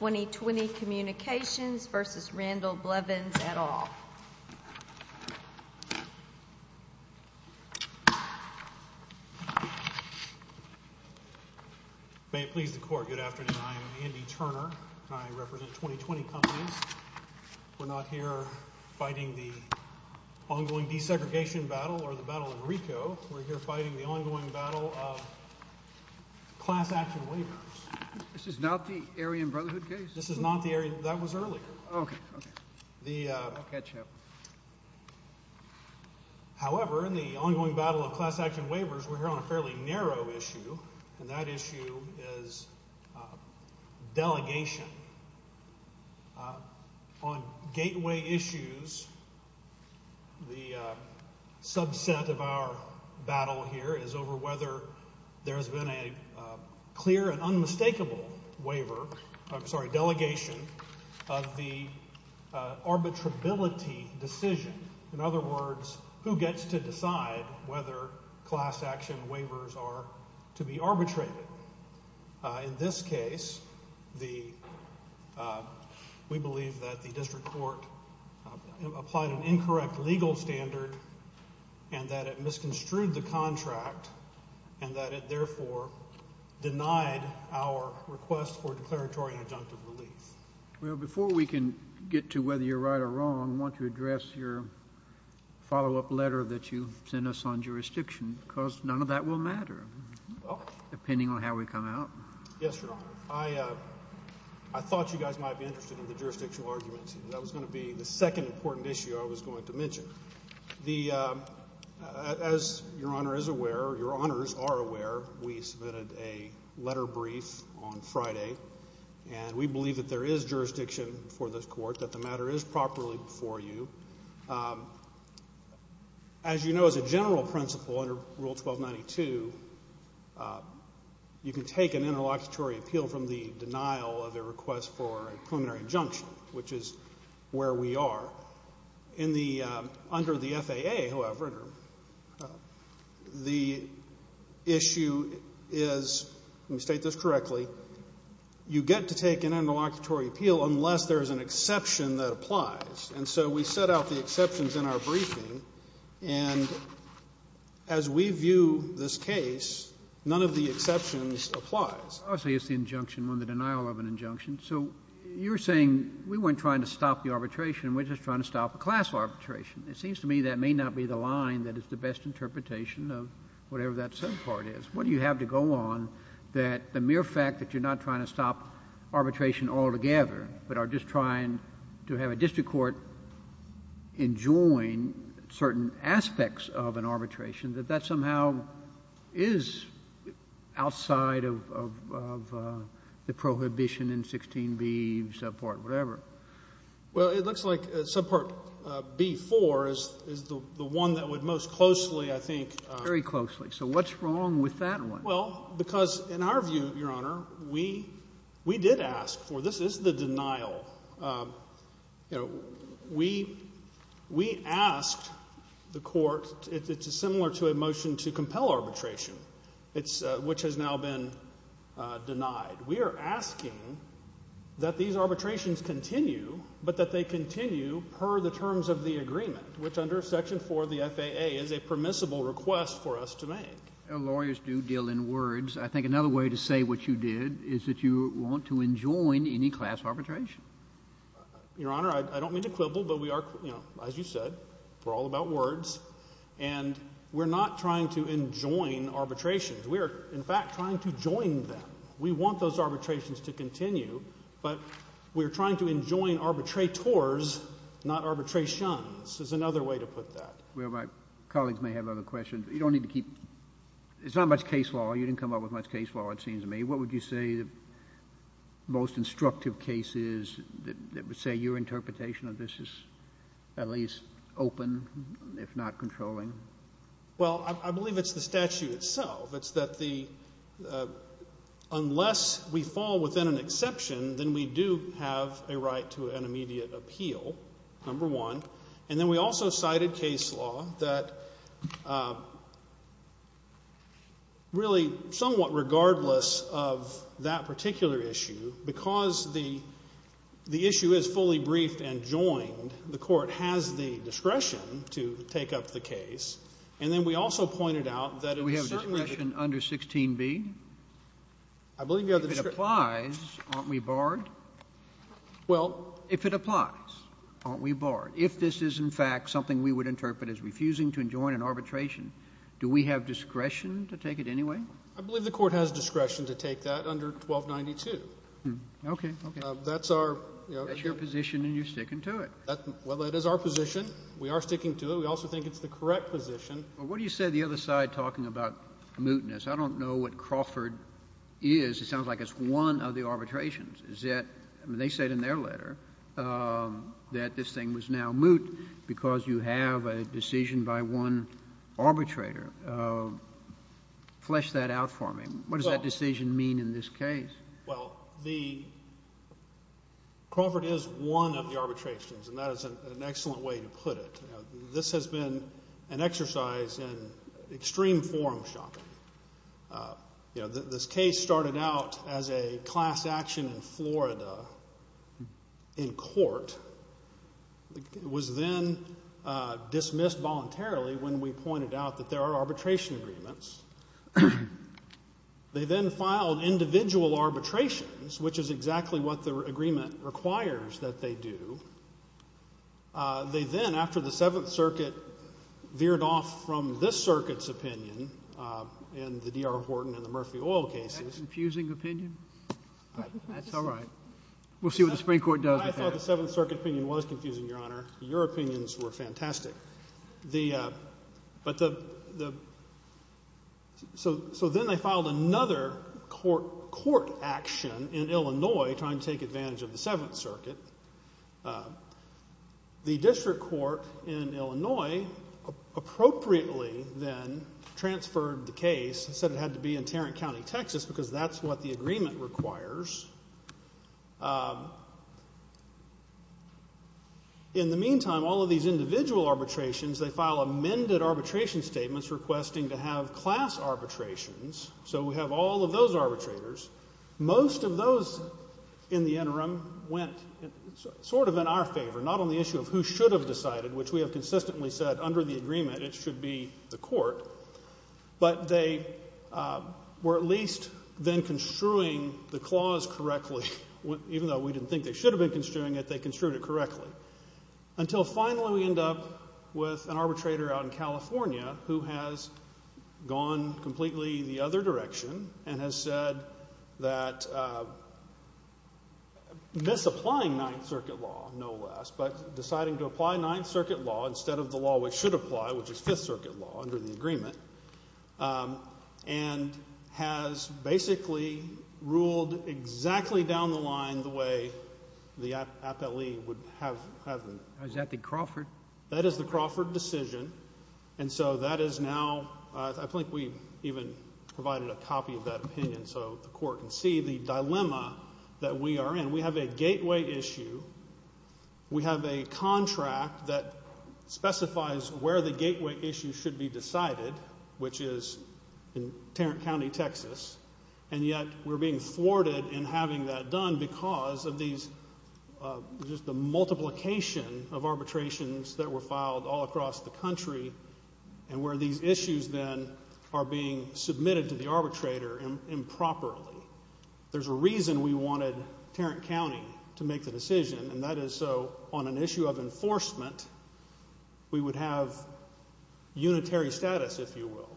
May it please the Court, good afternoon. I am Andy Turner, and I represent 2020 Companies. We're not here fighting the ongoing desegregation battle or the battle in Ricoh. We're here fighting the ongoing battle of class action waivers. This is Naughty Aryan Brotherhood. We're here fighting the ongoing battle of class action waivers. However, in the ongoing battle of class action waivers, we're here on a fairly narrow issue, and that issue is delegation. On gateway issues, the subset of our battle here is over whether there's been a clear and unmistakable waiver, I'm sorry, delegation of the arbitrability decision. In other words, who gets to decide whether class action waivers are to be arbitrated. In this case, we believe that the District Court applied an incorrect legal standard, and that it misconstrued the contract, and that it therefore denied our request for declaratory and adjunctive relief. Well, before we can get to whether you're right or wrong, I want to address your follow-up letter that you sent us on jurisdiction, because none of that will matter, depending on how we come out. Yes, Your Honor. I thought you guys might be interested in the jurisdictional arguments. That was going to be the second important issue I was going to mention. As Your Honor is aware, or Your Honors are aware, we submitted a letter brief on Friday, and we believe that there is jurisdiction for this Court, that the matter is properly before you. As you know, as a general principle under Rule 1292, you can take an interlocutory appeal from the denial of a request for a preliminary injunction, which is where we are. In the — under the FAA, however, the issue is — let me state this correctly — you get to take an interlocutory appeal unless there is an exception that applies. And so we set out the exceptions in our briefing, and as we view this case, none of the exceptions applies. Obviously, it's the injunction on the denial of an injunction. So you're saying we weren't trying to stop the arbitration, we're just trying to stop a class arbitration. It seems to me that may not be the line that is the best interpretation of whatever that subpart is. What do you have to go on that the mere fact that you're not trying to stop arbitration altogether, but are just trying to have a district court enjoin certain aspects of an prohibition in 16B, subpart whatever? Well, it looks like subpart B-4 is the one that would most closely, I think — Very closely. So what's wrong with that one? Well, because in our view, Your Honor, we did ask for — this is the denial. You know, we asked the court — it's similar to a motion to compel arbitration, which has now been denied. We are asking that these arbitrations continue, but that they continue per the terms of the agreement, which under Section 4 of the FAA is a permissible request for us to make. Lawyers do deal in words. I think another way to say what you did is that you want to enjoin any class arbitration. Your Honor, I don't mean to quibble, but we are — you know, as you said, we're all about And we're not trying to enjoin arbitrations. We are, in fact, trying to join them. We want those arbitrations to continue, but we're trying to enjoin arbitrators, not arbitrations, is another way to put that. Well, my colleagues may have other questions, but you don't need to keep — it's not much case law. You didn't come up with much case law, it seems to me. What would you say the most instructive case is that would say your interpretation of this is at least open, if not controlling? Well, I believe it's the statute itself. It's that the — unless we fall within an exception, then we do have a right to an immediate appeal, number one. And then we also cited case law that really somewhat regardless of that particular issue, because the issue is fully briefed and joined, the Court has the discretion to take up the case. And then we also pointed out that in a certain — Do we have discretion under 16b? I believe you have the — If it applies, aren't we barred? Well — If it applies, aren't we barred? If this is, in fact, something we would interpret as refusing to enjoin an arbitration, do we have discretion to take it anyway? I believe the Court has discretion to take that under 1292. Okay. Okay. That's our — That's your position, and you're sticking to it. Well, it is our position. We are sticking to it. We also think it's the correct position. Well, what do you say the other side talking about mootness? I don't know what Crawford is. It sounds like it's one of the arbitrations. Is that — I mean, they said in their letter that this thing was now moot because you have a decision by one arbitrator. Flesh that out for me. What does that decision mean in this case? Well, the — Crawford is one of the arbitrations, and that is an excellent way to put it. You know, this has been an exercise in extreme forum shopping. You know, this case started out as a class action in Florida in court. It was then dismissed voluntarily when we pointed out that there are arbitration agreements. They then filed individual arbitrations, which is exactly what the agreement requires that they do. They then, after the Seventh Circuit veered off from this circuit's opinion in the D.R. Horton and the Murphy Oil cases — Is that a confusing opinion? That's all right. We'll see what the Supreme Court does with that. I thought the Seventh Circuit opinion was confusing, Your Honor. Your opinions were fantastic. But the — so then they filed another court action in Illinois trying to take advantage of the Seventh Circuit. The district court in Illinois appropriately then transferred the case and said it had to be in Tarrant County, Texas, because that's what the agreement requires. In the meantime, all of these individual arbitrations, they file amended arbitration statements requesting to have class arbitrations. So we have all of those arbitrators. Most of those in the interim went sort of in our favor, not on the issue of who should have decided, which we have consistently said under the agreement it should be the court. But they were at least then construing the clause correctly. Even though we didn't think they should have been construing it, they construed it correctly. Until finally we end up with an arbitrator out in California who has gone completely the other direction and has said that misapplying Ninth Circuit law, no less, but deciding to apply Ninth Circuit law instead of the law we should apply, which is Fifth Circuit law under the agreement, and has basically ruled exactly down the line the way the appellee would have. Is that the Crawford? That is the Crawford decision. And so that is now, I think we even provided a copy of that opinion so the court can see the dilemma that we are in. We have a gateway issue. We have a contract that specifies where the gateway issue should be decided, which is in Tarrant County, Texas. And yet we're being thwarted in having that done because of these, just the multiplication of arbitrations that were filed all across the country and where these issues then are being submitted to the arbitrator improperly. There's a reason we wanted Tarrant County to make the decision, and that is so on an issue of enforcement we would have unitary status, if you will.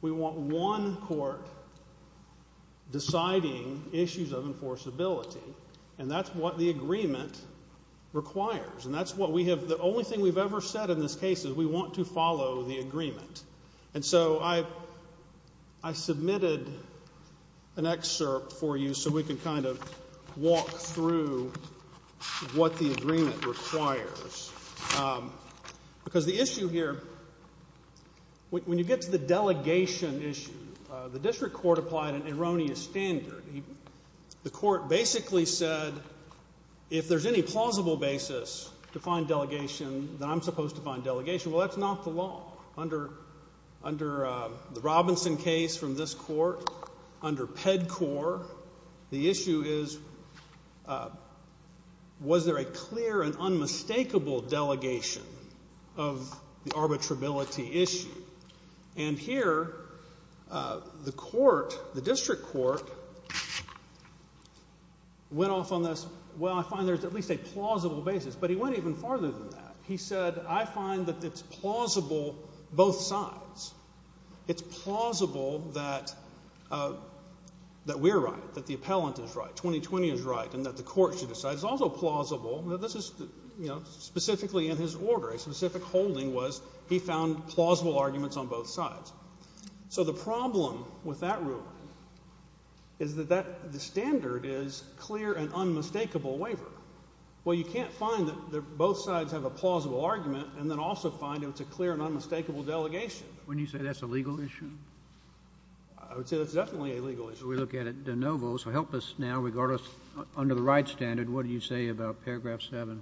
We want one court deciding issues of enforceability, and that's what the agreement requires. And that's what we have, the only thing we've ever said in this case is we want to follow the agreement. And so I submitted an excerpt for you so we can kind of walk through what the agreement requires. Because the issue here, when you get to the delegation issue, the district court applied an erroneous standard. The court basically said if there's any plausible basis to find delegation, then I'm supposed to find delegation. Well, that's not the law. Under the Robinson case from this court, under PEDCOR, the issue is was there a clear and unmistakable delegation of the arbitrability issue? And here the court, the district court, went off on this, well, I find there's at least a plausible basis. But he went even farther than that. He said I find that it's plausible both sides. It's plausible that we're right, that the appellant is right, 2020 is right, and that the court should decide. It's also plausible, this is specifically in his order, a specific holding was he found plausible arguments on both sides. So the problem with that ruling is that the standard is clear and unmistakable waiver. Well, you can't find that both sides have a plausible argument and then also find it's a clear and unmistakable delegation. Wouldn't you say that's a legal issue? I would say that's definitely a legal issue. We look at it de novo, so help us now, regard us under the right standard, what do you say about paragraph 7?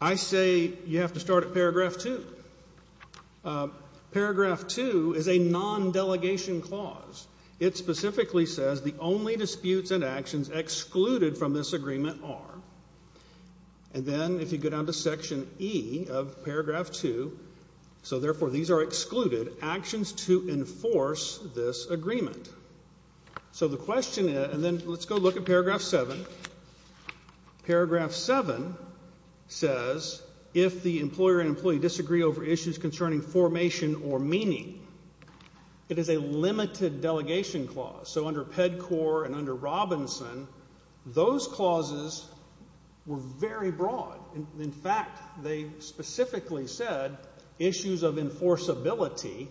I say you have to start at paragraph 2. Paragraph 2 is a non-delegation clause. It specifically says the only disputes and actions excluded from this agreement are. And then if you go down to section E of paragraph 2, so therefore these are excluded, actions to enforce this agreement. So the question is, and then let's go look at paragraph 7. Paragraph 7 says if the employer and employee disagree over issues concerning formation or meaning, it is a limited delegation clause. So under PEDCOR and under Robinson, those clauses were very broad. In fact, they specifically said issues of enforceability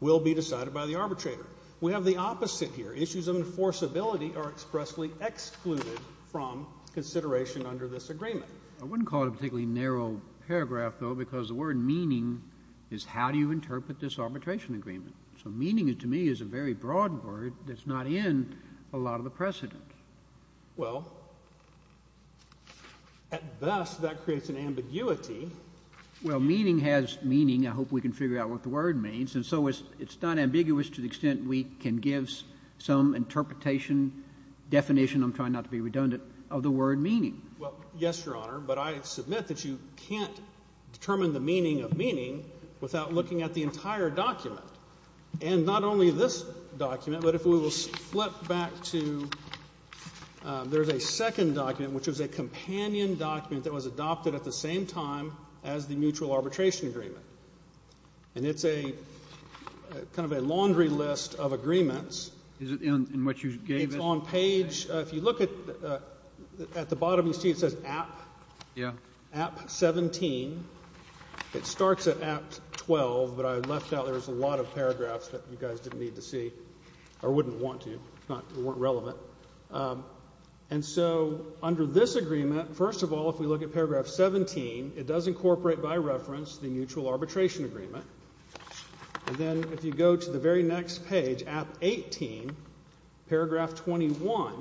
will be decided by the arbitrator. We have the opposite here. Issues of enforceability are expressly excluded from consideration under this agreement. I wouldn't call it a particularly narrow paragraph, though, because the word meaning is how do you interpret this arbitration agreement. So meaning to me is a very broad word that's not in a lot of the precedent. Well, at best that creates an ambiguity. Well, meaning has meaning. I hope we can figure out what the word means. And so it's not ambiguous to the extent we can give some interpretation, definition, I'm trying not to be redundant, of the word meaning. Well, yes, Your Honor. But I submit that you can't determine the meaning of meaning without looking at the entire document. And not only this document, but if we will flip back to the second document, which was a companion document that was adopted at the same time as the mutual arbitration agreement. And it's a kind of a laundry list of agreements. Is it in what you gave us? It's on page. If you look at the bottom, you see it says, App. Yeah. App 17. It starts at App 12, but I left out there's a lot of paragraphs that you guys didn't need to see or wouldn't want to. It's not relevant. And so under this agreement, first of all, if we look at paragraph 17, it does incorporate by reference the mutual arbitration agreement. And then if you go to the very next page at 18, paragraph 21.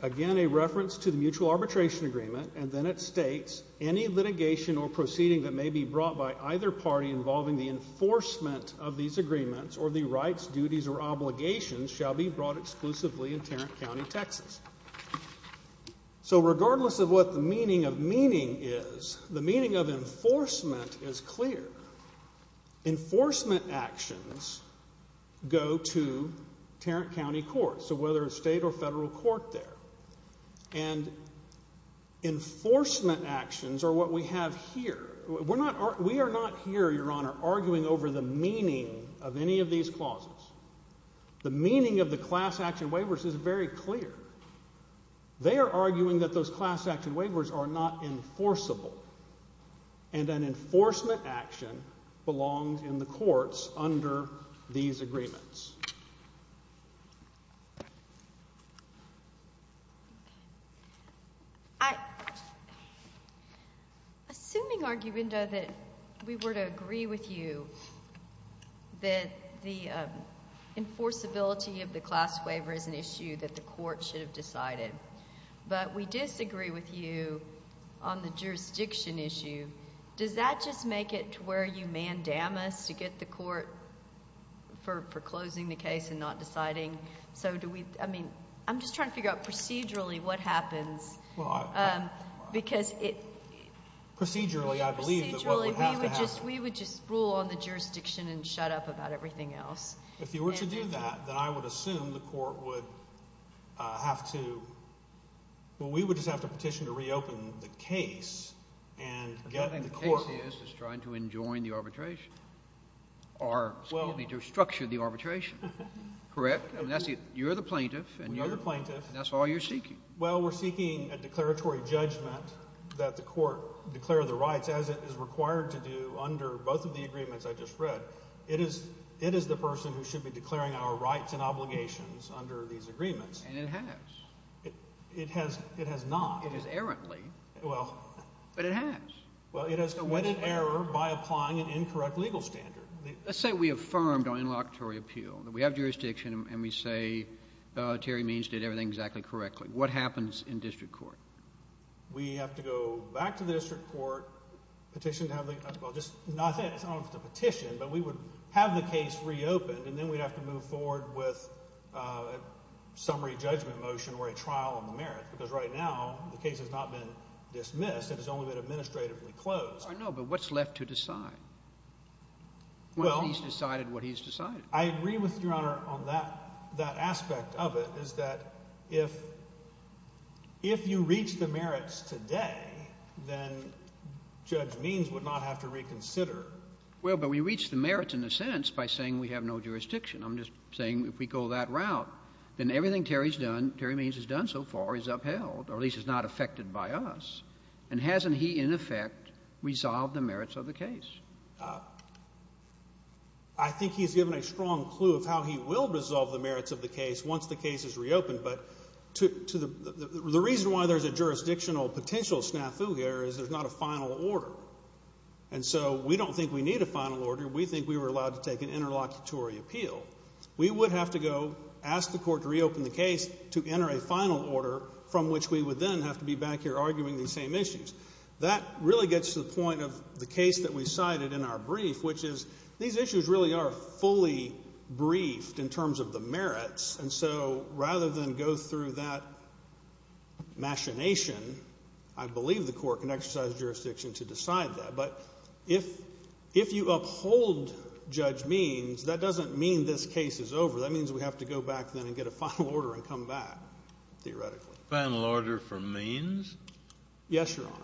Again, a reference to the mutual arbitration agreement. And then it states any litigation or proceeding that may be brought by either party involving the enforcement of these agreements or the rights, duties, or obligations shall be brought exclusively in Tarrant County, Texas. So regardless of what the meaning of meaning is, the meaning of enforcement is clear. Enforcement actions go to Tarrant County Courts, so whether it's state or federal court there. And enforcement actions are what we have here. We are not here, Your Honor, arguing over the meaning of any of these clauses. The meaning of the class action waivers is very clear. They are arguing that those class action waivers are not enforceable. And an enforcement action belongs in the courts under these agreements. Thank you. Assuming, Arguindo, that we were to agree with you that the enforceability of the class waiver is an issue that the court should have decided, but we disagree with you on the jurisdiction issue, does that just make it to where you mandamus to get the court for closing the case and not deciding? So do we – I mean, I'm just trying to figure out procedurally what happens because it – Procedurally, I believe, is what would have to happen. Procedurally, we would just rule on the jurisdiction and shut up about everything else. If you were to do that, then I would assume the court would have to – I think the case is trying to enjoin the arbitration or, excuse me, to structure the arbitration, correct? I mean, that's – you're the plaintiff. We are the plaintiff. And that's all you're seeking. Well, we're seeking a declaratory judgment that the court declare the rights as it is required to do under both of the agreements I just read. It is the person who should be declaring our rights and obligations under these agreements. And it has. It has not. It has errantly. Well – But it has. Well, it has committed error by applying an incorrect legal standard. Let's say we affirmed our interlocutory appeal, that we have jurisdiction, and we say Terry Means did everything exactly correctly. What happens in district court? We have to go back to the district court, petition to have the – well, just not – it's not a petition, but we would have the case reopened, and then we'd have to move forward with a summary judgment motion or a trial on the merits because right now the case has not been dismissed. It has only been administratively closed. I know, but what's left to decide? Well – What he's decided, what he's decided. I agree with Your Honor on that aspect of it is that if you reach the merits today, then Judge Means would not have to reconsider. Well, but we reached the merits in a sense by saying we have no jurisdiction. I'm just saying if we go that route, then everything Terry's done, Terry Means has done so far, is upheld, or at least is not affected by us. And hasn't he, in effect, resolved the merits of the case? I think he's given a strong clue of how he will resolve the merits of the case once the case is reopened, but the reason why there's a jurisdictional potential snafu here is there's not a final order, and so we don't think we need a final order. We think we were allowed to take an interlocutory appeal. We would have to go ask the court to reopen the case to enter a final order from which we would then have to be back here arguing these same issues. That really gets to the point of the case that we cited in our brief, which is these issues really are fully briefed in terms of the merits, and so rather than go through that machination, I believe the court can exercise jurisdiction to decide that. But if you uphold Judge Means, that doesn't mean this case is over. That means we have to go back then and get a final order and come back, theoretically. Final order from Means? Yes, Your Honor.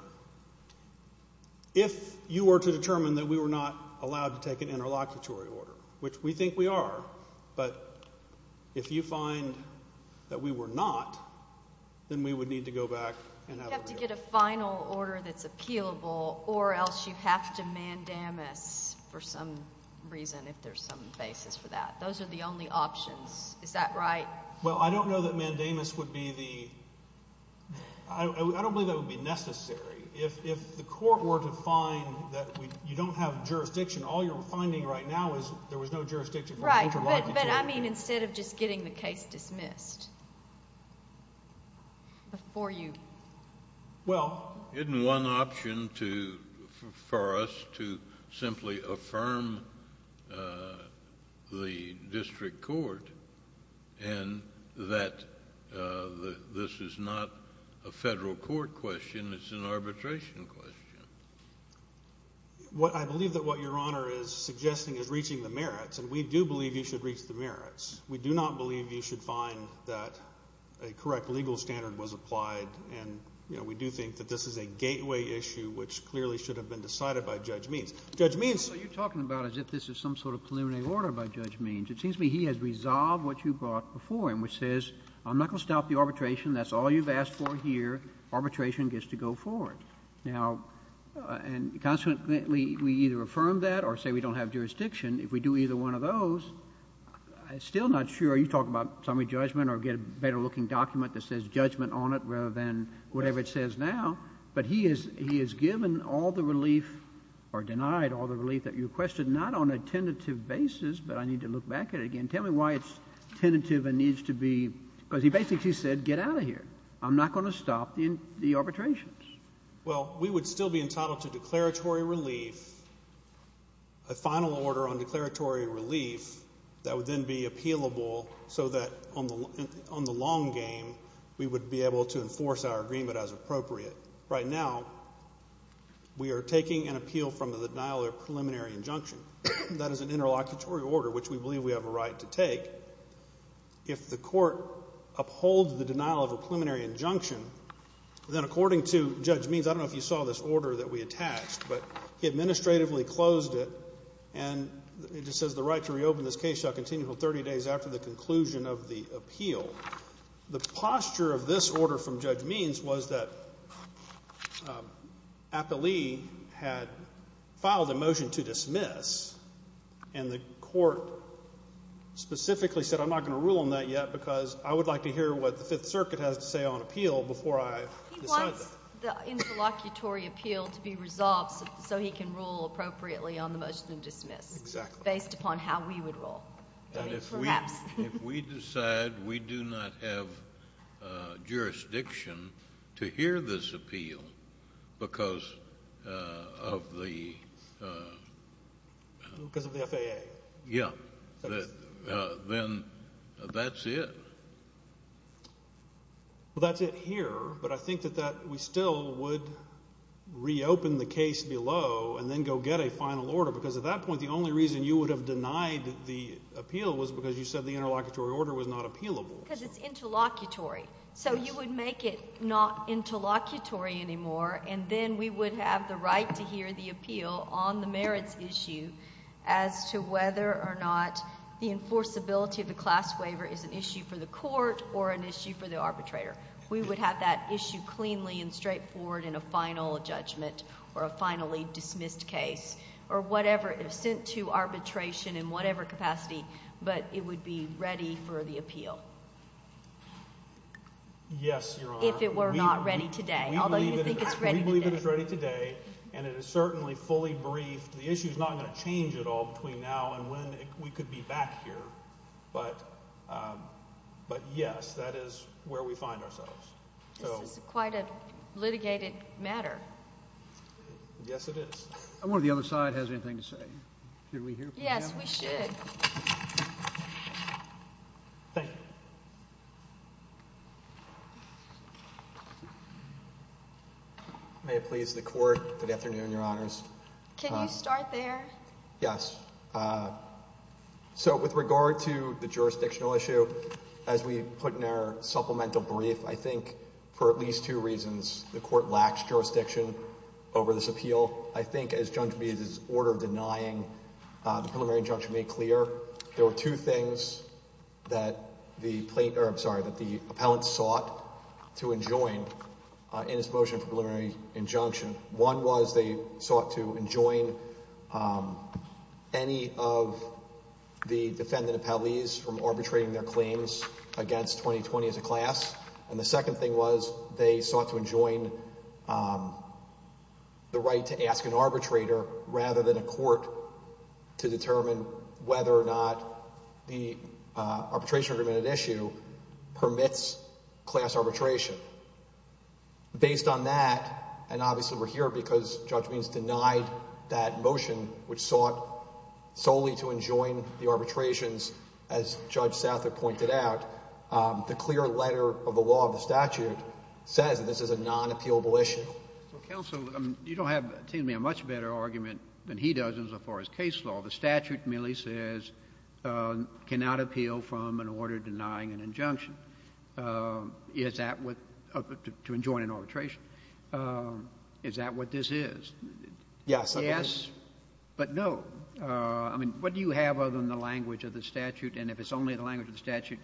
If you were to determine that we were not allowed to take an interlocutory order, which we think we are, but if you find that we were not, then we would need to go back and have a review. You have to get a final order that's appealable or else you have to mandamus for some reason, if there's some basis for that. Those are the only options. Is that right? Well, I don't know that mandamus would be the—I don't believe that would be necessary. If the court were to find that you don't have jurisdiction, all you're finding right now is there was no jurisdiction for the interlocutory order. Right, but I mean instead of just getting the case dismissed before you— Well, isn't one option for us to simply affirm the district court and that this is not a federal court question, it's an arbitration question? I believe that what Your Honor is suggesting is reaching the merits, and we do believe you should reach the merits. We do not believe you should find that a correct legal standard was applied, and we do think that this is a gateway issue which clearly should have been decided by Judge Means. Judge Means— So you're talking about as if this is some sort of preliminary order by Judge Means. It seems to me he has resolved what you brought before him, which says, I'm not going to stop the arbitration. That's all you've asked for here. Arbitration gets to go forward. Now, and consequently we either affirm that or say we don't have jurisdiction. If we do either one of those, I'm still not sure. You talk about summary judgment or get a better looking document that says judgment on it rather than whatever it says now. But he has given all the relief or denied all the relief that you requested, not on a tentative basis, but I need to look back at it again. Tell me why it's tentative and needs to be—because he basically said get out of here. I'm not going to stop the arbitrations. Well, we would still be entitled to declaratory relief, a final order on declaratory relief that would then be appealable so that on the long game, we would be able to enforce our agreement as appropriate. Right now, we are taking an appeal from the denial of a preliminary injunction. That is an interlocutory order, which we believe we have a right to take. If the court upholds the denial of a preliminary injunction, then according to Judge Means, I don't know if you saw this order that we attached, but he administratively closed it and it just says the right to reopen this case shall continue until 30 days after the conclusion of the appeal. The posture of this order from Judge Means was that because I would like to hear what the Fifth Circuit has to say on appeal before I decide that. He wants the interlocutory appeal to be resolved so he can rule appropriately on the motion to dismiss. Exactly. Based upon how we would rule. And if we decide we do not have jurisdiction to hear this appeal because of the— Because of the FAA. Yeah. Then that's it. Well, that's it here, but I think that we still would reopen the case below and then go get a final order because at that point the only reason you would have denied the appeal was because you said the interlocutory order was not appealable. Because it's interlocutory. So you would make it not interlocutory anymore, and then we would have the right to hear the appeal on the merits issue as to whether or not the enforceability of the class waiver is an issue for the court or an issue for the arbitrator. We would have that issue cleanly and straightforward in a final judgment or a finally dismissed case or whatever is sent to arbitration in whatever capacity, but it would be ready for the appeal. Yes, Your Honor. If it were not ready today, although you think it's ready today. We believe it is ready today, and it is certainly fully briefed. The issue is not going to change at all between now and when we could be back here, but yes, that is where we find ourselves. This is quite a litigated matter. Yes, it is. I wonder if the other side has anything to say. Should we hear from them? Yes, we should. Thank you. May it please the Court. Good afternoon, Your Honors. Can you start there? Yes. So with regard to the jurisdictional issue, as we put in our supplemental brief, I think for at least two reasons. The Court lacks jurisdiction over this appeal. I think as Judge Meade's order denying the preliminary injunction made clear, there were two things that the plaintiff, I'm sorry, that the appellant sought to enjoin in his motion for preliminary injunction. One was they sought to enjoin any of the defendant appellees from arbitrating their claims against 2020 as a class. And the second thing was they sought to enjoin the right to ask an arbitrator rather than a court to determine whether or not the arbitration agreement at issue permits class arbitration. Based on that, and obviously we're here because Judge Meade's denied that motion which sought solely to enjoin the arbitrations, as Judge Southert pointed out, the clear letter of the law of the statute says that this is a non-appealable issue. Counsel, you don't have to give me a much better argument than he does as far as case law. The statute merely says cannot appeal from an order denying an injunction. Is that what, to enjoin an arbitration, is that what this is? Yes. Yes? But no. I mean, what do you have other than the language of the statute? And if it's only the language of the statute,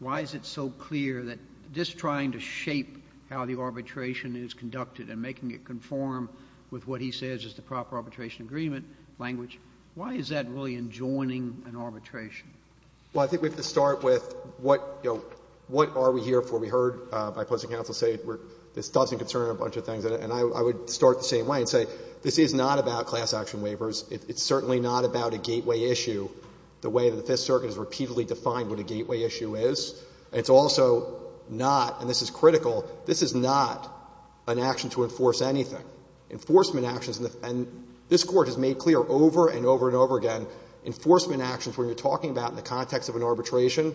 why is it so clear that just trying to shape how the arbitration is conducted and making it conform with what he says is the proper arbitration agreement language, why is that really enjoining an arbitration? Well, I think we have to start with what, you know, what are we here for? We heard by pleasant counsel say this doesn't concern a bunch of things. And I would start the same way and say this is not about class action waivers. It's certainly not about a gateway issue the way that the Fifth Circuit has repeatedly defined what a gateway issue is. It's also not, and this is critical, this is not an action to enforce anything. Enforcement actions, and this Court has made clear over and over and over again, enforcement actions, when you're talking about in the context of an arbitration,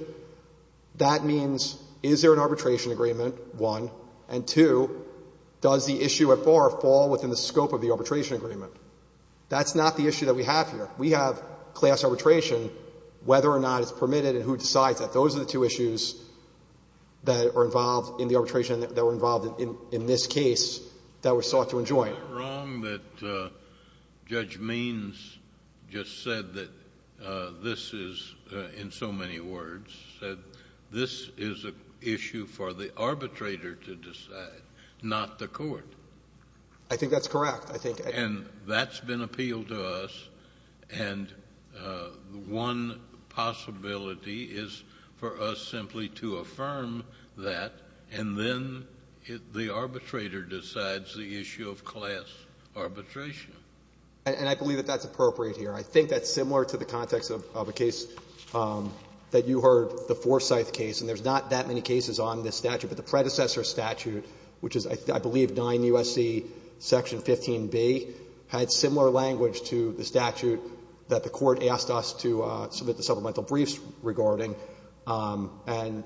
that means is there an arbitration agreement, one, and, two, does the issue at bar fall within the scope of the arbitration agreement? That's not the issue that we have here. We have class arbitration, whether or not it's permitted and who decides that. Those are the two issues that are involved in the arbitration, that were involved in this case, that we're sought to enjoin. Kennedy. Isn't it wrong that Judge Means just said that this is, in so many words, said this is an issue for the arbitrator to decide, not the court? I think that's correct. And that's been appealed to us, and one possibility is for us simply to affirm that, and then the arbitrator decides the issue of class arbitration. And I believe that that's appropriate here. I think that's similar to the context of a case that you heard, the Forsyth case, and there's not that many cases on this statute. But the predecessor statute, which is, I believe, 9 U.S.C. Section 15b, had similar language to the statute that the Court asked us to submit the supplemental briefs regarding. And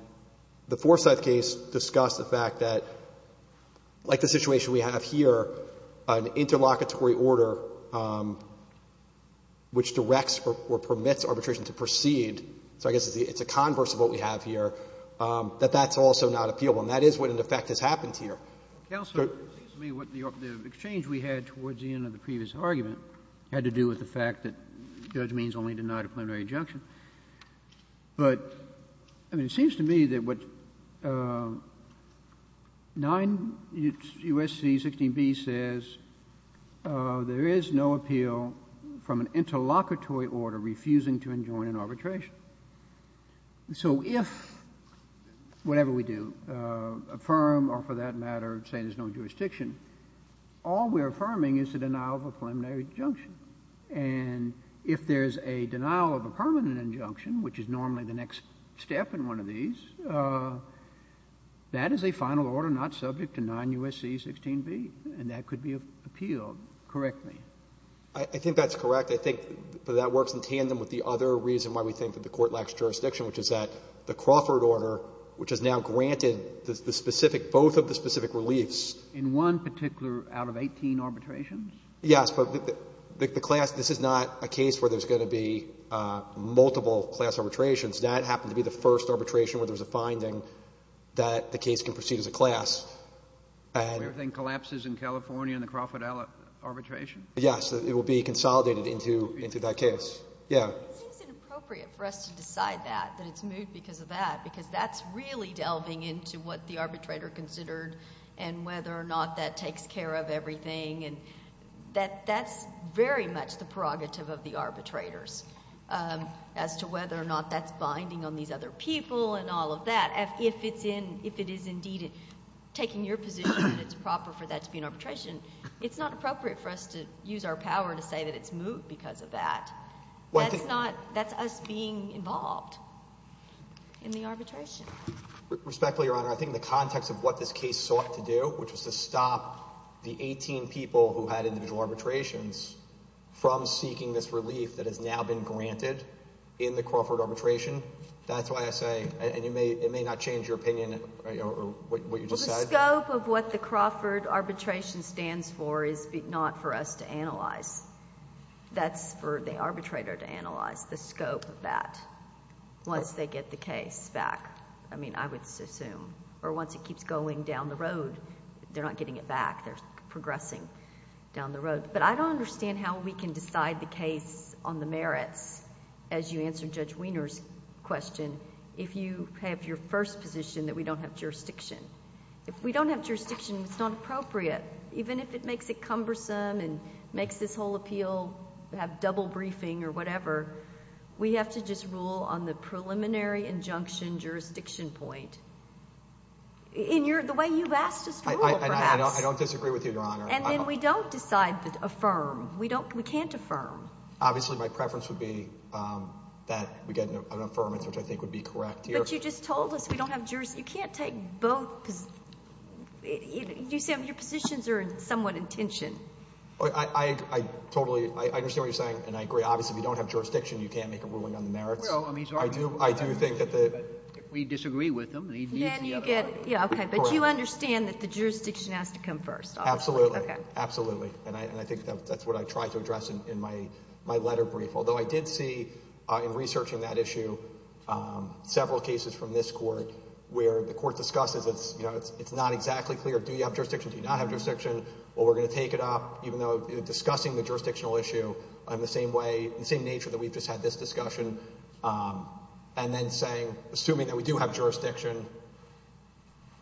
the Forsyth case discussed the fact that, like the situation we have here, an interlocutory order which directs or permits arbitration to proceed, so I guess it's a converse of what we have here, that that's also not appealable. And that is what, in effect, has happened here. Kennedy. The exchange we had towards the end of the previous argument had to do with the fact that Judge Means only denied a preliminary injunction. But it seems to me that what 9 U.S.C. 16b says, there is no appeal from an interlocutory order refusing to enjoin an arbitration. So if, whatever we do, affirm or, for that matter, say there's no jurisdiction, all we're affirming is the denial of a preliminary injunction. And if there's a denial of a permanent injunction, which is normally the next step in one of these, that is a final order not subject to 9 U.S.C. 16b, and that could be appealed. Correct me. I think that's correct. I think that works in tandem with the other reason why we think that the Court lacks jurisdiction, which is that the Crawford order, which has now granted the specific – both of the specific reliefs. In one particular out of 18 arbitrations? Yes. But the class – this is not a case where there's going to be multiple class arbitrations. That happened to be the first arbitration where there was a finding that the case can proceed as a class. Where everything collapses in California in the Crawford arbitration? Yes. It will be consolidated into that case. Yeah. It seems inappropriate for us to decide that, that it's moved because of that, because that's really delving into what the arbitrator considered and whether or not that takes care of everything. And that's very much the prerogative of the arbitrators as to whether or not that's binding on these other people and all of that. If it is indeed taking your position that it's proper for that to be an arbitration, it's not appropriate for us to use our power to say that it's moved because of that. That's not – that's us being involved in the arbitration. Respectfully, Your Honor, I think the context of what this case sought to do, which was to stop the 18 people who had individual arbitrations from seeking this relief that has now been granted in the Crawford arbitration, that's why I say – and it may not change your opinion or what you just said. The scope of what the Crawford arbitration stands for is not for us to analyze. That's for the arbitrator to analyze, the scope of that, once they get the case back, I mean, I would assume, or once it keeps going down the road. They're not getting it back. They're progressing down the road. But I don't understand how we can decide the case on the merits, as you answered Judge If we don't have jurisdiction, it's not appropriate. Even if it makes it cumbersome and makes this whole appeal have double briefing or whatever, we have to just rule on the preliminary injunction jurisdiction point. In your – the way you've asked us to rule, perhaps. I don't disagree with you, Your Honor. And then we don't decide to affirm. We don't – we can't affirm. Obviously, my preference would be that we get an affirmance, which I think would be correct here. But you just told us we don't have jurisdiction. You can't take both. You said your positions are somewhat in tension. I totally – I understand what you're saying, and I agree. Obviously, if you don't have jurisdiction, you can't make a ruling on the merits. I do think that the – We disagree with him. Then you get – yeah, okay. But you understand that the jurisdiction has to come first. Absolutely. Absolutely. And I think that's what I tried to address in my letter brief. Although I did see in researching that issue several cases from this court where the court discusses it's not exactly clear. Do you have jurisdiction? Do you not have jurisdiction? Well, we're going to take it up, even though discussing the jurisdictional issue in the same way, the same nature that we've just had this discussion, and then saying, assuming that we do have jurisdiction,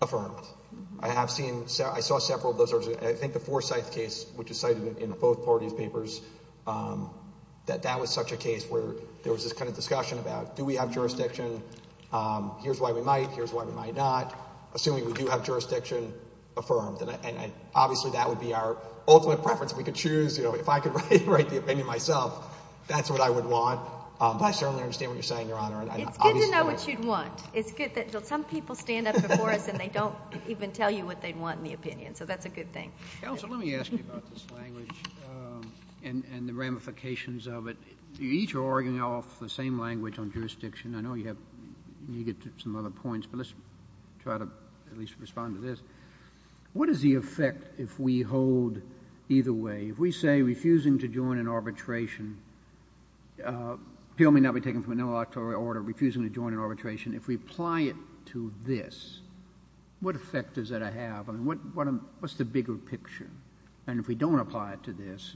affirmed. I have seen – I saw several of those. I think the Forsyth case, which is cited in both parties' papers, that that was such a case where there was this kind of discussion about, do we have jurisdiction? Here's why we might. Here's why we might not. Assuming we do have jurisdiction, affirmed. And obviously, that would be our ultimate preference. If we could choose, you know, if I could write the opinion myself, that's what I would want. But I certainly understand what you're saying, Your Honor. It's good to know what you'd want. It's good that some people stand up before us and they don't even tell you what they'd want in the opinion. So that's a good thing. Counsel, let me ask you about this language and the ramifications of it. You each are arguing off the same language on jurisdiction. I know you have – you get some other points, but let's try to at least respond to this. What is the effect if we hold either way? If we say refusing to join an arbitration, appeal may not be taken from a non-electoral order, refusing to join an arbitration. If we apply it to this, what effect does that have? I mean, what's the bigger picture? And if we don't apply it to this,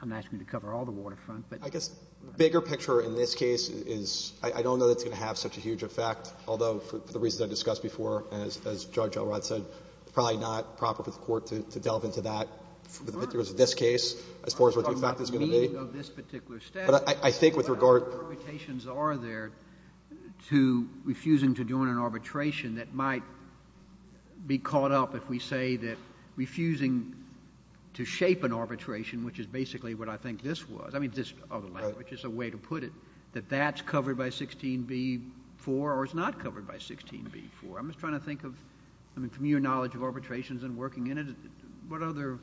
I'm asking you to cover all the waterfront. I guess the bigger picture in this case is I don't know that it's going to have such a huge effect. Although, for the reasons I discussed before, as Judge Elrod said, it's probably not proper for the Court to delve into that. Of course not. With regards to this case, as far as what the effect is going to be. I'm talking about the meaning of this particular statute. But I think with regard to how many permutations are there to refusing to join an arbitration that might be caught up if we say that refusing to shape an arbitration, which is basically what I think this was. I mean, this other language is a way to put it, that that's covered by 16b-4 or is not covered by 16b-4. I'm just trying to think of, I mean, from your knowledge of arbitrations and working in it, what other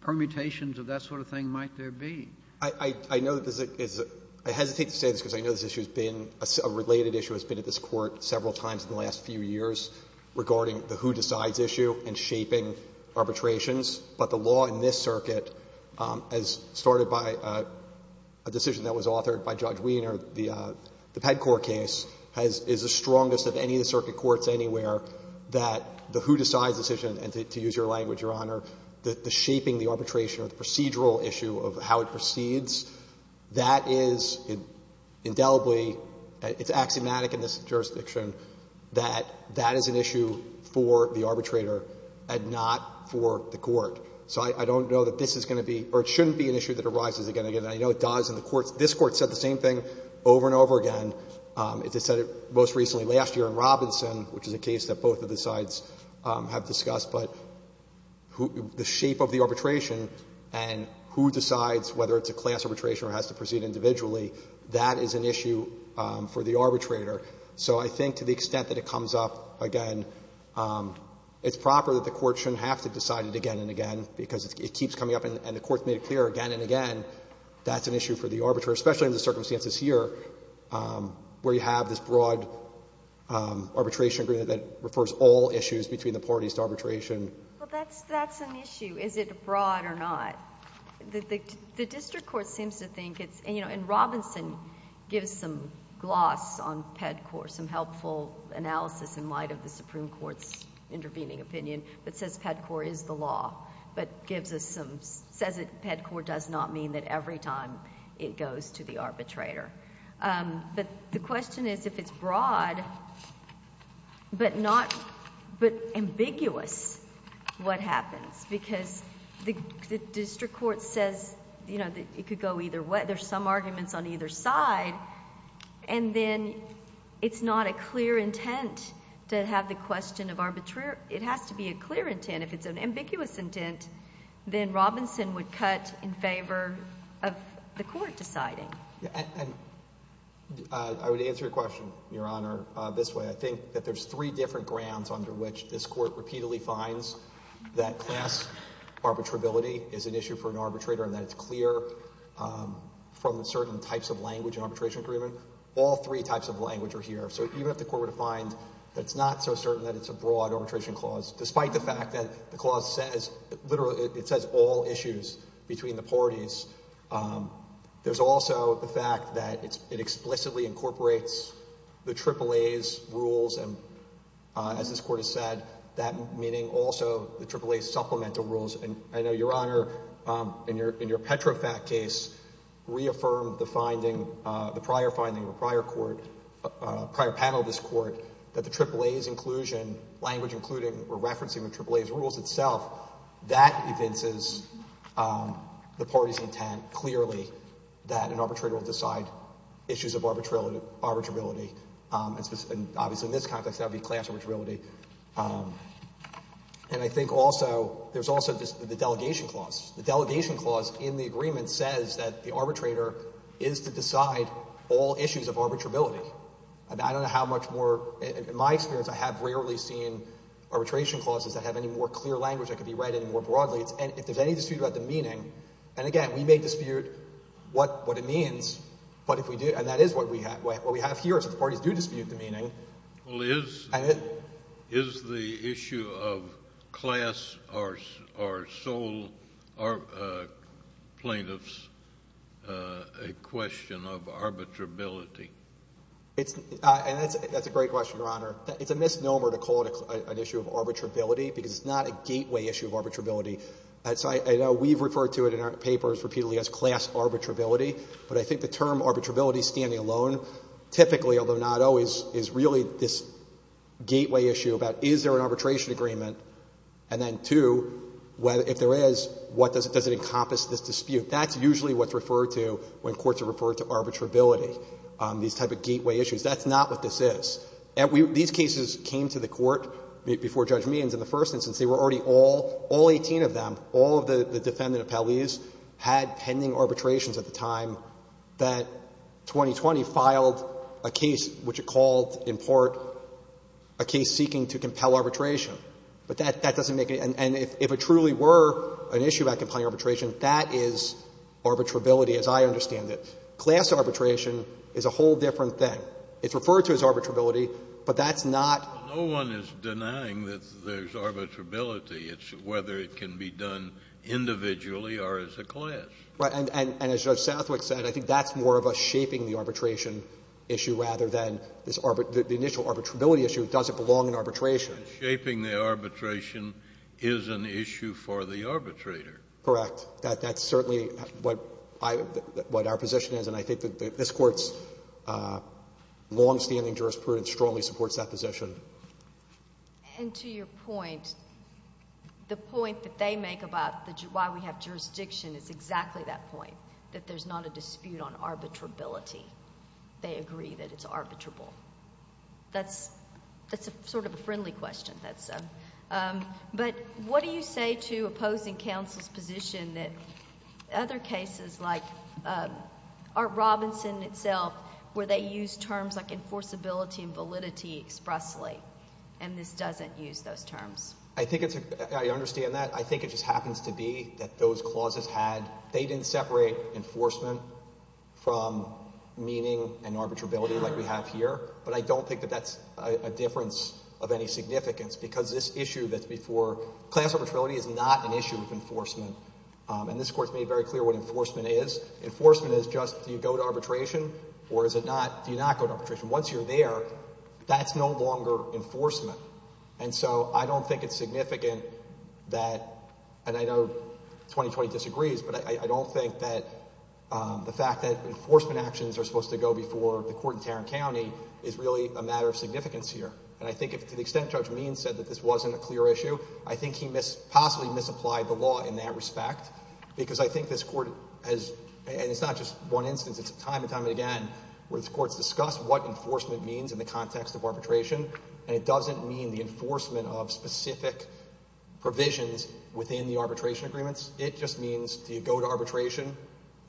permutations of that sort of thing might there be? I know that this is a — I hesitate to say this because I know this issue has been — a related issue has been at this Court several times in the last few years regarding the who-decides issue and shaping arbitrations. But the law in this circuit, as started by a decision that was authored by Judge Wiener, the Ped Court case, is the strongest of any of the circuit courts anywhere that the who-decides decision, and to use your language, Your Honor, the shaping the arbitration or the procedural issue of how it proceeds, that is indelibly — it's axiomatic in this jurisdiction that that is an issue for the arbitrator and not for the court. So I don't know that this is going to be — or it shouldn't be an issue that arises again and again. I know it does, and the courts — this Court said the same thing over and over again. It said it most recently last year in Robinson, which is a case that both of the sides have discussed. But the shape of the arbitration and who decides whether it's a class arbitration or has to proceed individually, that is an issue for the arbitrator. So I think to the extent that it comes up again, it's proper that the court shouldn't have to decide it again and again, because it keeps coming up and the court's made it clear again and again that's an issue for the arbitrator, especially in the circumstances here where you have this broad arbitration agreement that refers all issues between the parties to arbitration. Well, that's an issue. Is it broad or not? The district court seems to think it's — and Robinson gives some gloss on PEDCOR, some helpful analysis in light of the Supreme Court's intervening opinion that says PEDCOR is the law, but gives us some — says that PEDCOR does not mean that every time it goes to the arbitrator. But the question is if it's broad but not — but ambiguous what happens, because the district court says, you know, it could go either way, there's some arguments on either side, and then it's not a clear intent to have the question of arbitration. It has to be a clear intent. If it's an ambiguous intent, then Robinson would cut in favor of the court deciding. And I would answer your question, Your Honor, this way. I think that there's three different grounds under which this court repeatedly finds that class arbitrability is an issue for an arbitrator and that it's clear from certain types of language in arbitration agreement. All three types of language are here. So even if the court were to find that it's not so certain that it's a broad arbitration clause, despite the fact that the clause says — literally it says all issues between the parties, there's also the fact that it explicitly incorporates the AAA's rules and, as this Court has said, that meaning also the AAA's supplemental rules. And I know, Your Honor, in your Petrofat case, reaffirmed the finding, the prior finding of a prior court, prior panel of this Court, that the AAA's inclusion, language including or referencing the AAA's rules itself, that evinces the party's intent clearly that an arbitrator will decide issues of arbitrability. And obviously in this context, that would be class arbitrability. And I think also there's also the delegation clause. The delegation clause in the agreement says that the arbitrator is to decide all issues of arbitrability. And I don't know how much more — in my experience, I have rarely seen arbitration clauses that have any more clear language that could be read any more broadly. And if there's any dispute about the meaning — and again, we may dispute what it means, but if we do — and that is what we have here, is that the parties do dispute the meaning. Well, is the issue of class or sole plaintiffs a question of arbitrability? And that's a great question, Your Honor. It's a misnomer to call it an issue of arbitrability because it's not a gateway issue of arbitrability. So I know we've referred to it in our papers repeatedly as class arbitrability, but I think the term arbitrability standing alone typically, although not always, is really this gateway issue about is there an arbitration agreement, and then two, if there is, does it encompass this dispute? That's usually what's referred to when courts have referred to arbitrability, these type of gateway issues. That's not what this is. These cases came to the Court before Judge Means. In the first instance, they were already all — all 18 of them, all of the defendant appellees had pending arbitrations at the time that 2020 filed a case which it called in part a case seeking to compel arbitration. But that doesn't make any — and if it truly were an issue about compelling arbitration, that is arbitrability as I understand it. Class arbitration is a whole different thing. It's referred to as arbitrability, but that's not — No one is denying that there's arbitrability. It's whether it can be done individually or as a class. Right. And as Judge Southwick said, I think that's more of a shaping the arbitration issue rather than this — the initial arbitrability issue. It doesn't belong in arbitration. Shaping the arbitration is an issue for the arbitrator. Correct. That's certainly what I — what our position is, and I think that this Court's longstanding jurisprudence strongly supports that position. And to your point, the point that they make about why we have jurisdiction is exactly that point, that there's not a dispute on arbitrability. They agree that it's arbitrable. That's sort of a friendly question. But what do you say to opposing counsel's position that other cases like Art Robinson itself, where they use terms like enforceability and validity expressly, and this doesn't use those terms? I think it's — I understand that. I think it just happens to be that those clauses had — they didn't separate enforcement from meaning and arbitrability like we have here. But I don't think that that's a difference of any significance because this issue that's before — class arbitrability is not an issue of enforcement. And this Court's made very clear what enforcement is. Enforcement is just do you go to arbitration or is it not? Do you not go to arbitration? Once you're there, that's no longer enforcement. And so I don't think it's significant that — and I know 2020 disagrees, but I don't think that the fact that enforcement actions are supposed to go before the court in Tarrant County is really a matter of significance here. And I think to the extent Judge Means said that this wasn't a clear issue, I think he possibly misapplied the law in that respect because I think this Court has — and it's not just one instance. It's time and time again where the courts discuss what enforcement means in the context of arbitration, and it doesn't mean the enforcement of specific provisions within the arbitration agreements. It just means do you go to arbitration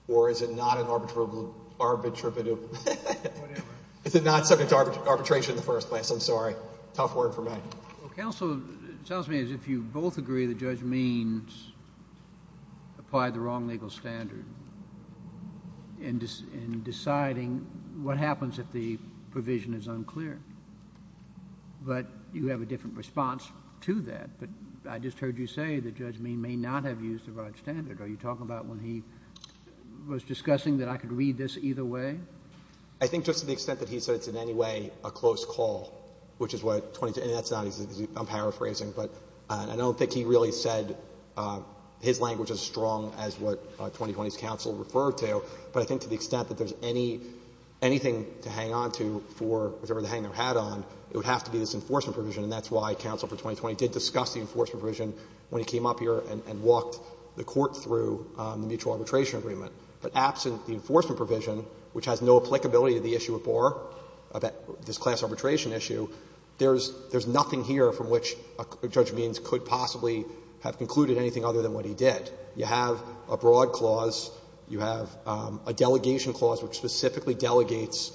or is it not an arbitrable — arbitrability? Whatever. Is it not subject to arbitration in the first place? I'm sorry. Tough word for me. Well, counsel, it sounds to me as if you both agree that Judge Means applied the wrong legal standard in deciding what happens if the provision is unclear. But you have a different response to that. But I just heard you say that Judge Means may not have used the right standard. Are you talking about when he was discussing that I could read this either way? I think just to the extent that he said it's in any way a close call, which is what I'm paraphrasing. But I don't think he really said his language as strong as what 2020's counsel referred to. But I think to the extent that there's any — anything to hang on to for whatever the hang their hat on, it would have to be this enforcement provision. And that's why counsel for 2020 did discuss the enforcement provision when he came up here and walked the Court through the mutual arbitration agreement. But absent the enforcement provision, which has no applicability to the issue of BOR, this class arbitration issue, there's nothing here from which Judge Means could possibly have concluded anything other than what he did. You have a broad clause. You have a delegation clause, which specifically delegates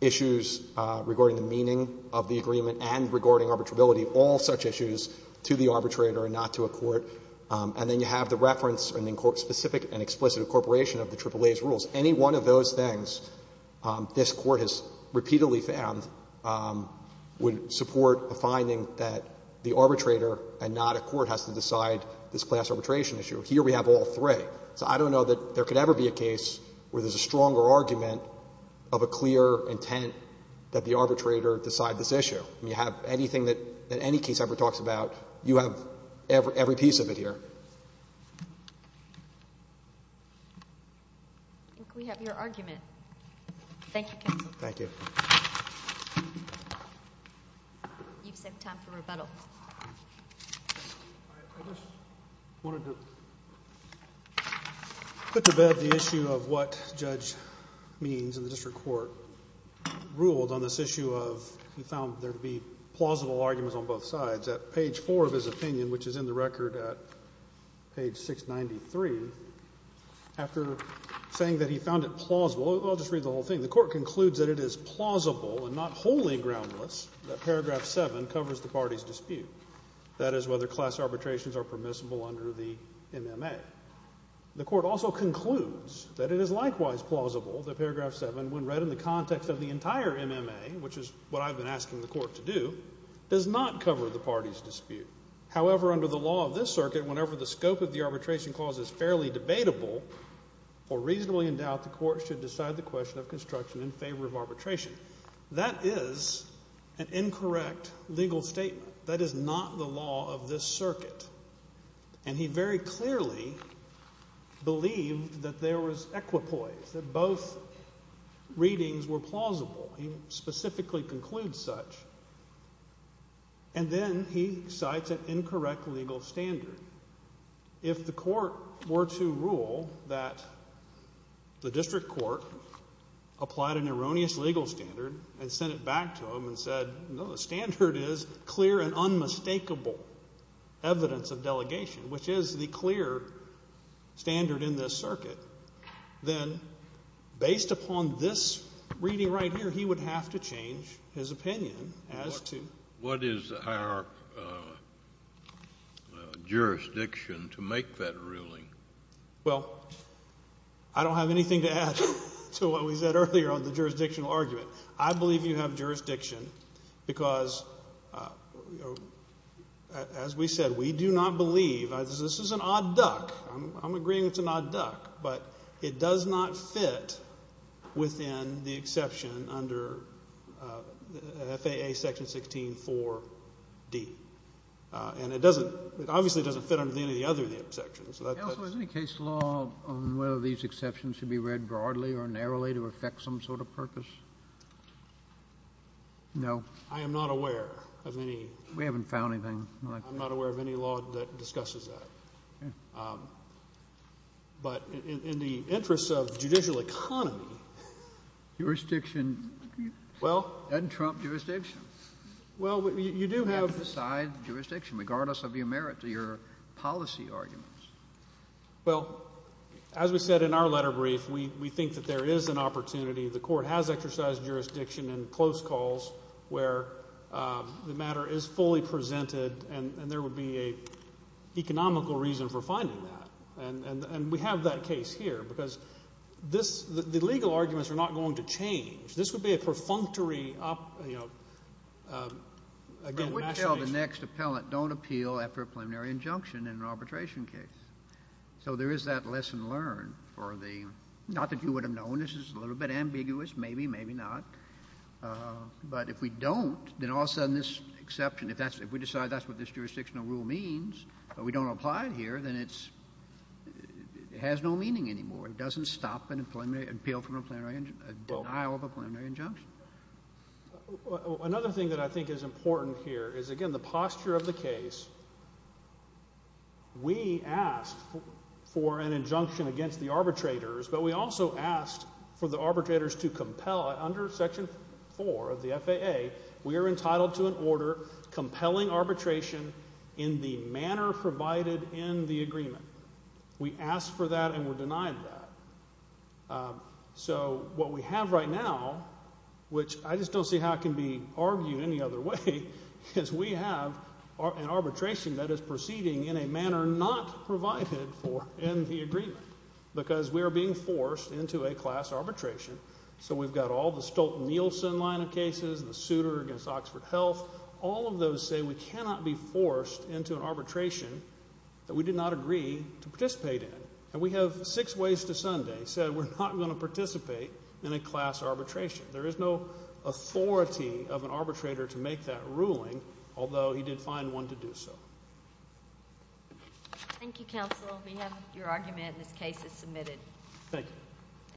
issues regarding the meaning of the agreement and regarding arbitrability, all such issues, to the arbitrator and not to a court. And then you have the reference and the specific and explicit incorporation of the AAA's rules. Any one of those things, this Court has repeatedly found, would support a finding that the arbitrator and not a court has to decide this class arbitration issue. Here we have all three. So I don't know that there could ever be a case where there's a stronger argument of a clear intent that the arbitrator decide this issue. You have anything that any case ever talks about, you have every piece of it here. I think we have your argument. Thank you, counsel. Thank you. You've saved time for rebuttal. I just wanted to put to bed the issue of what Judge Means and the district court ruled on this issue of he found there to be plausible arguments on both sides. At page 4 of his opinion, which is in the record at page 693, after saying that he found it plausible, I'll just read the whole thing. The court concludes that it is plausible and not wholly groundless that paragraph 7 covers the party's dispute. That is whether class arbitrations are permissible under the MMA. The court also concludes that it is likewise plausible that paragraph 7, when read in the context of the entire MMA, which is what I've been asking the court to do, does not cover the party's dispute. However, under the law of this circuit, whenever the scope of the arbitration clause is fairly debatable or reasonably in doubt, the court should decide the question of construction in favor of arbitration. That is an incorrect legal statement. That is not the law of this circuit. And he very clearly believed that there was equipoise, that both readings were plausible. He specifically concludes such. And then he cites an incorrect legal standard. If the court were to rule that the district court applied an erroneous legal standard and sent it back to him and said, no, the standard is clear and unmistakable evidence of delegation, which is the clear standard in this circuit, then based upon this reading right here, he would have to change his opinion as to. What is our jurisdiction to make that ruling? Well, I don't have anything to add to what we said earlier on the jurisdictional argument. I believe you have jurisdiction because, as we said, we do not believe. This is an odd duck. I'm agreeing it's an odd duck, but it does not fit within the exception under FAA Section 16-4-D. And it doesn't, it obviously doesn't fit under any of the other exceptions. Counsel, is there any case law on whether these exceptions should be read broadly or narrowly to affect some sort of purpose? No. I am not aware of any. We haven't found anything. I'm not aware of any law that discusses that. But in the interest of judicial economy. Jurisdiction doesn't trump jurisdiction. Well, you do have. You have to decide jurisdiction regardless of your merit to your policy arguments. Well, as we said in our letter brief, we think that there is an opportunity. The Court has exercised jurisdiction in close calls where the matter is fully presented and there would be an economical reason for finding that. And we have that case here because this, the legal arguments are not going to change. This would be a perfunctory, you know, again, machination. I wouldn't tell the next appellant don't appeal after a preliminary injunction in an arbitration case. So there is that lesson learned for the, not that you would have known, this is a little bit ambiguous, maybe, maybe not. But if we don't, then all of a sudden this exception, if we decide that's what this jurisdictional rule means but we don't apply it here, then it has no meaning anymore. It doesn't stop an appeal from a preliminary injunction, a denial of a preliminary injunction. Another thing that I think is important here is, again, the posture of the case. We asked for an injunction against the arbitrators, but we also asked for the arbitrators to compel under Section 4 of the FAA, we are entitled to an order compelling arbitration in the manner provided in the agreement. We asked for that and were denied that. So what we have right now, which I just don't see how it can be argued any other way, is we have an arbitration that is proceeding in a manner not provided for in the agreement because we are being forced into a class arbitration. So we've got all the Stolten-Nielsen line of cases, the suitor against Oxford Health. All of those say we cannot be forced into an arbitration that we did not agree to participate in. And we have six ways to Sunday said we're not going to participate in a class arbitration. There is no authority of an arbitrator to make that ruling, although he did find one to do so. Thank you, counsel. We have your argument and this case is submitted. Thank you.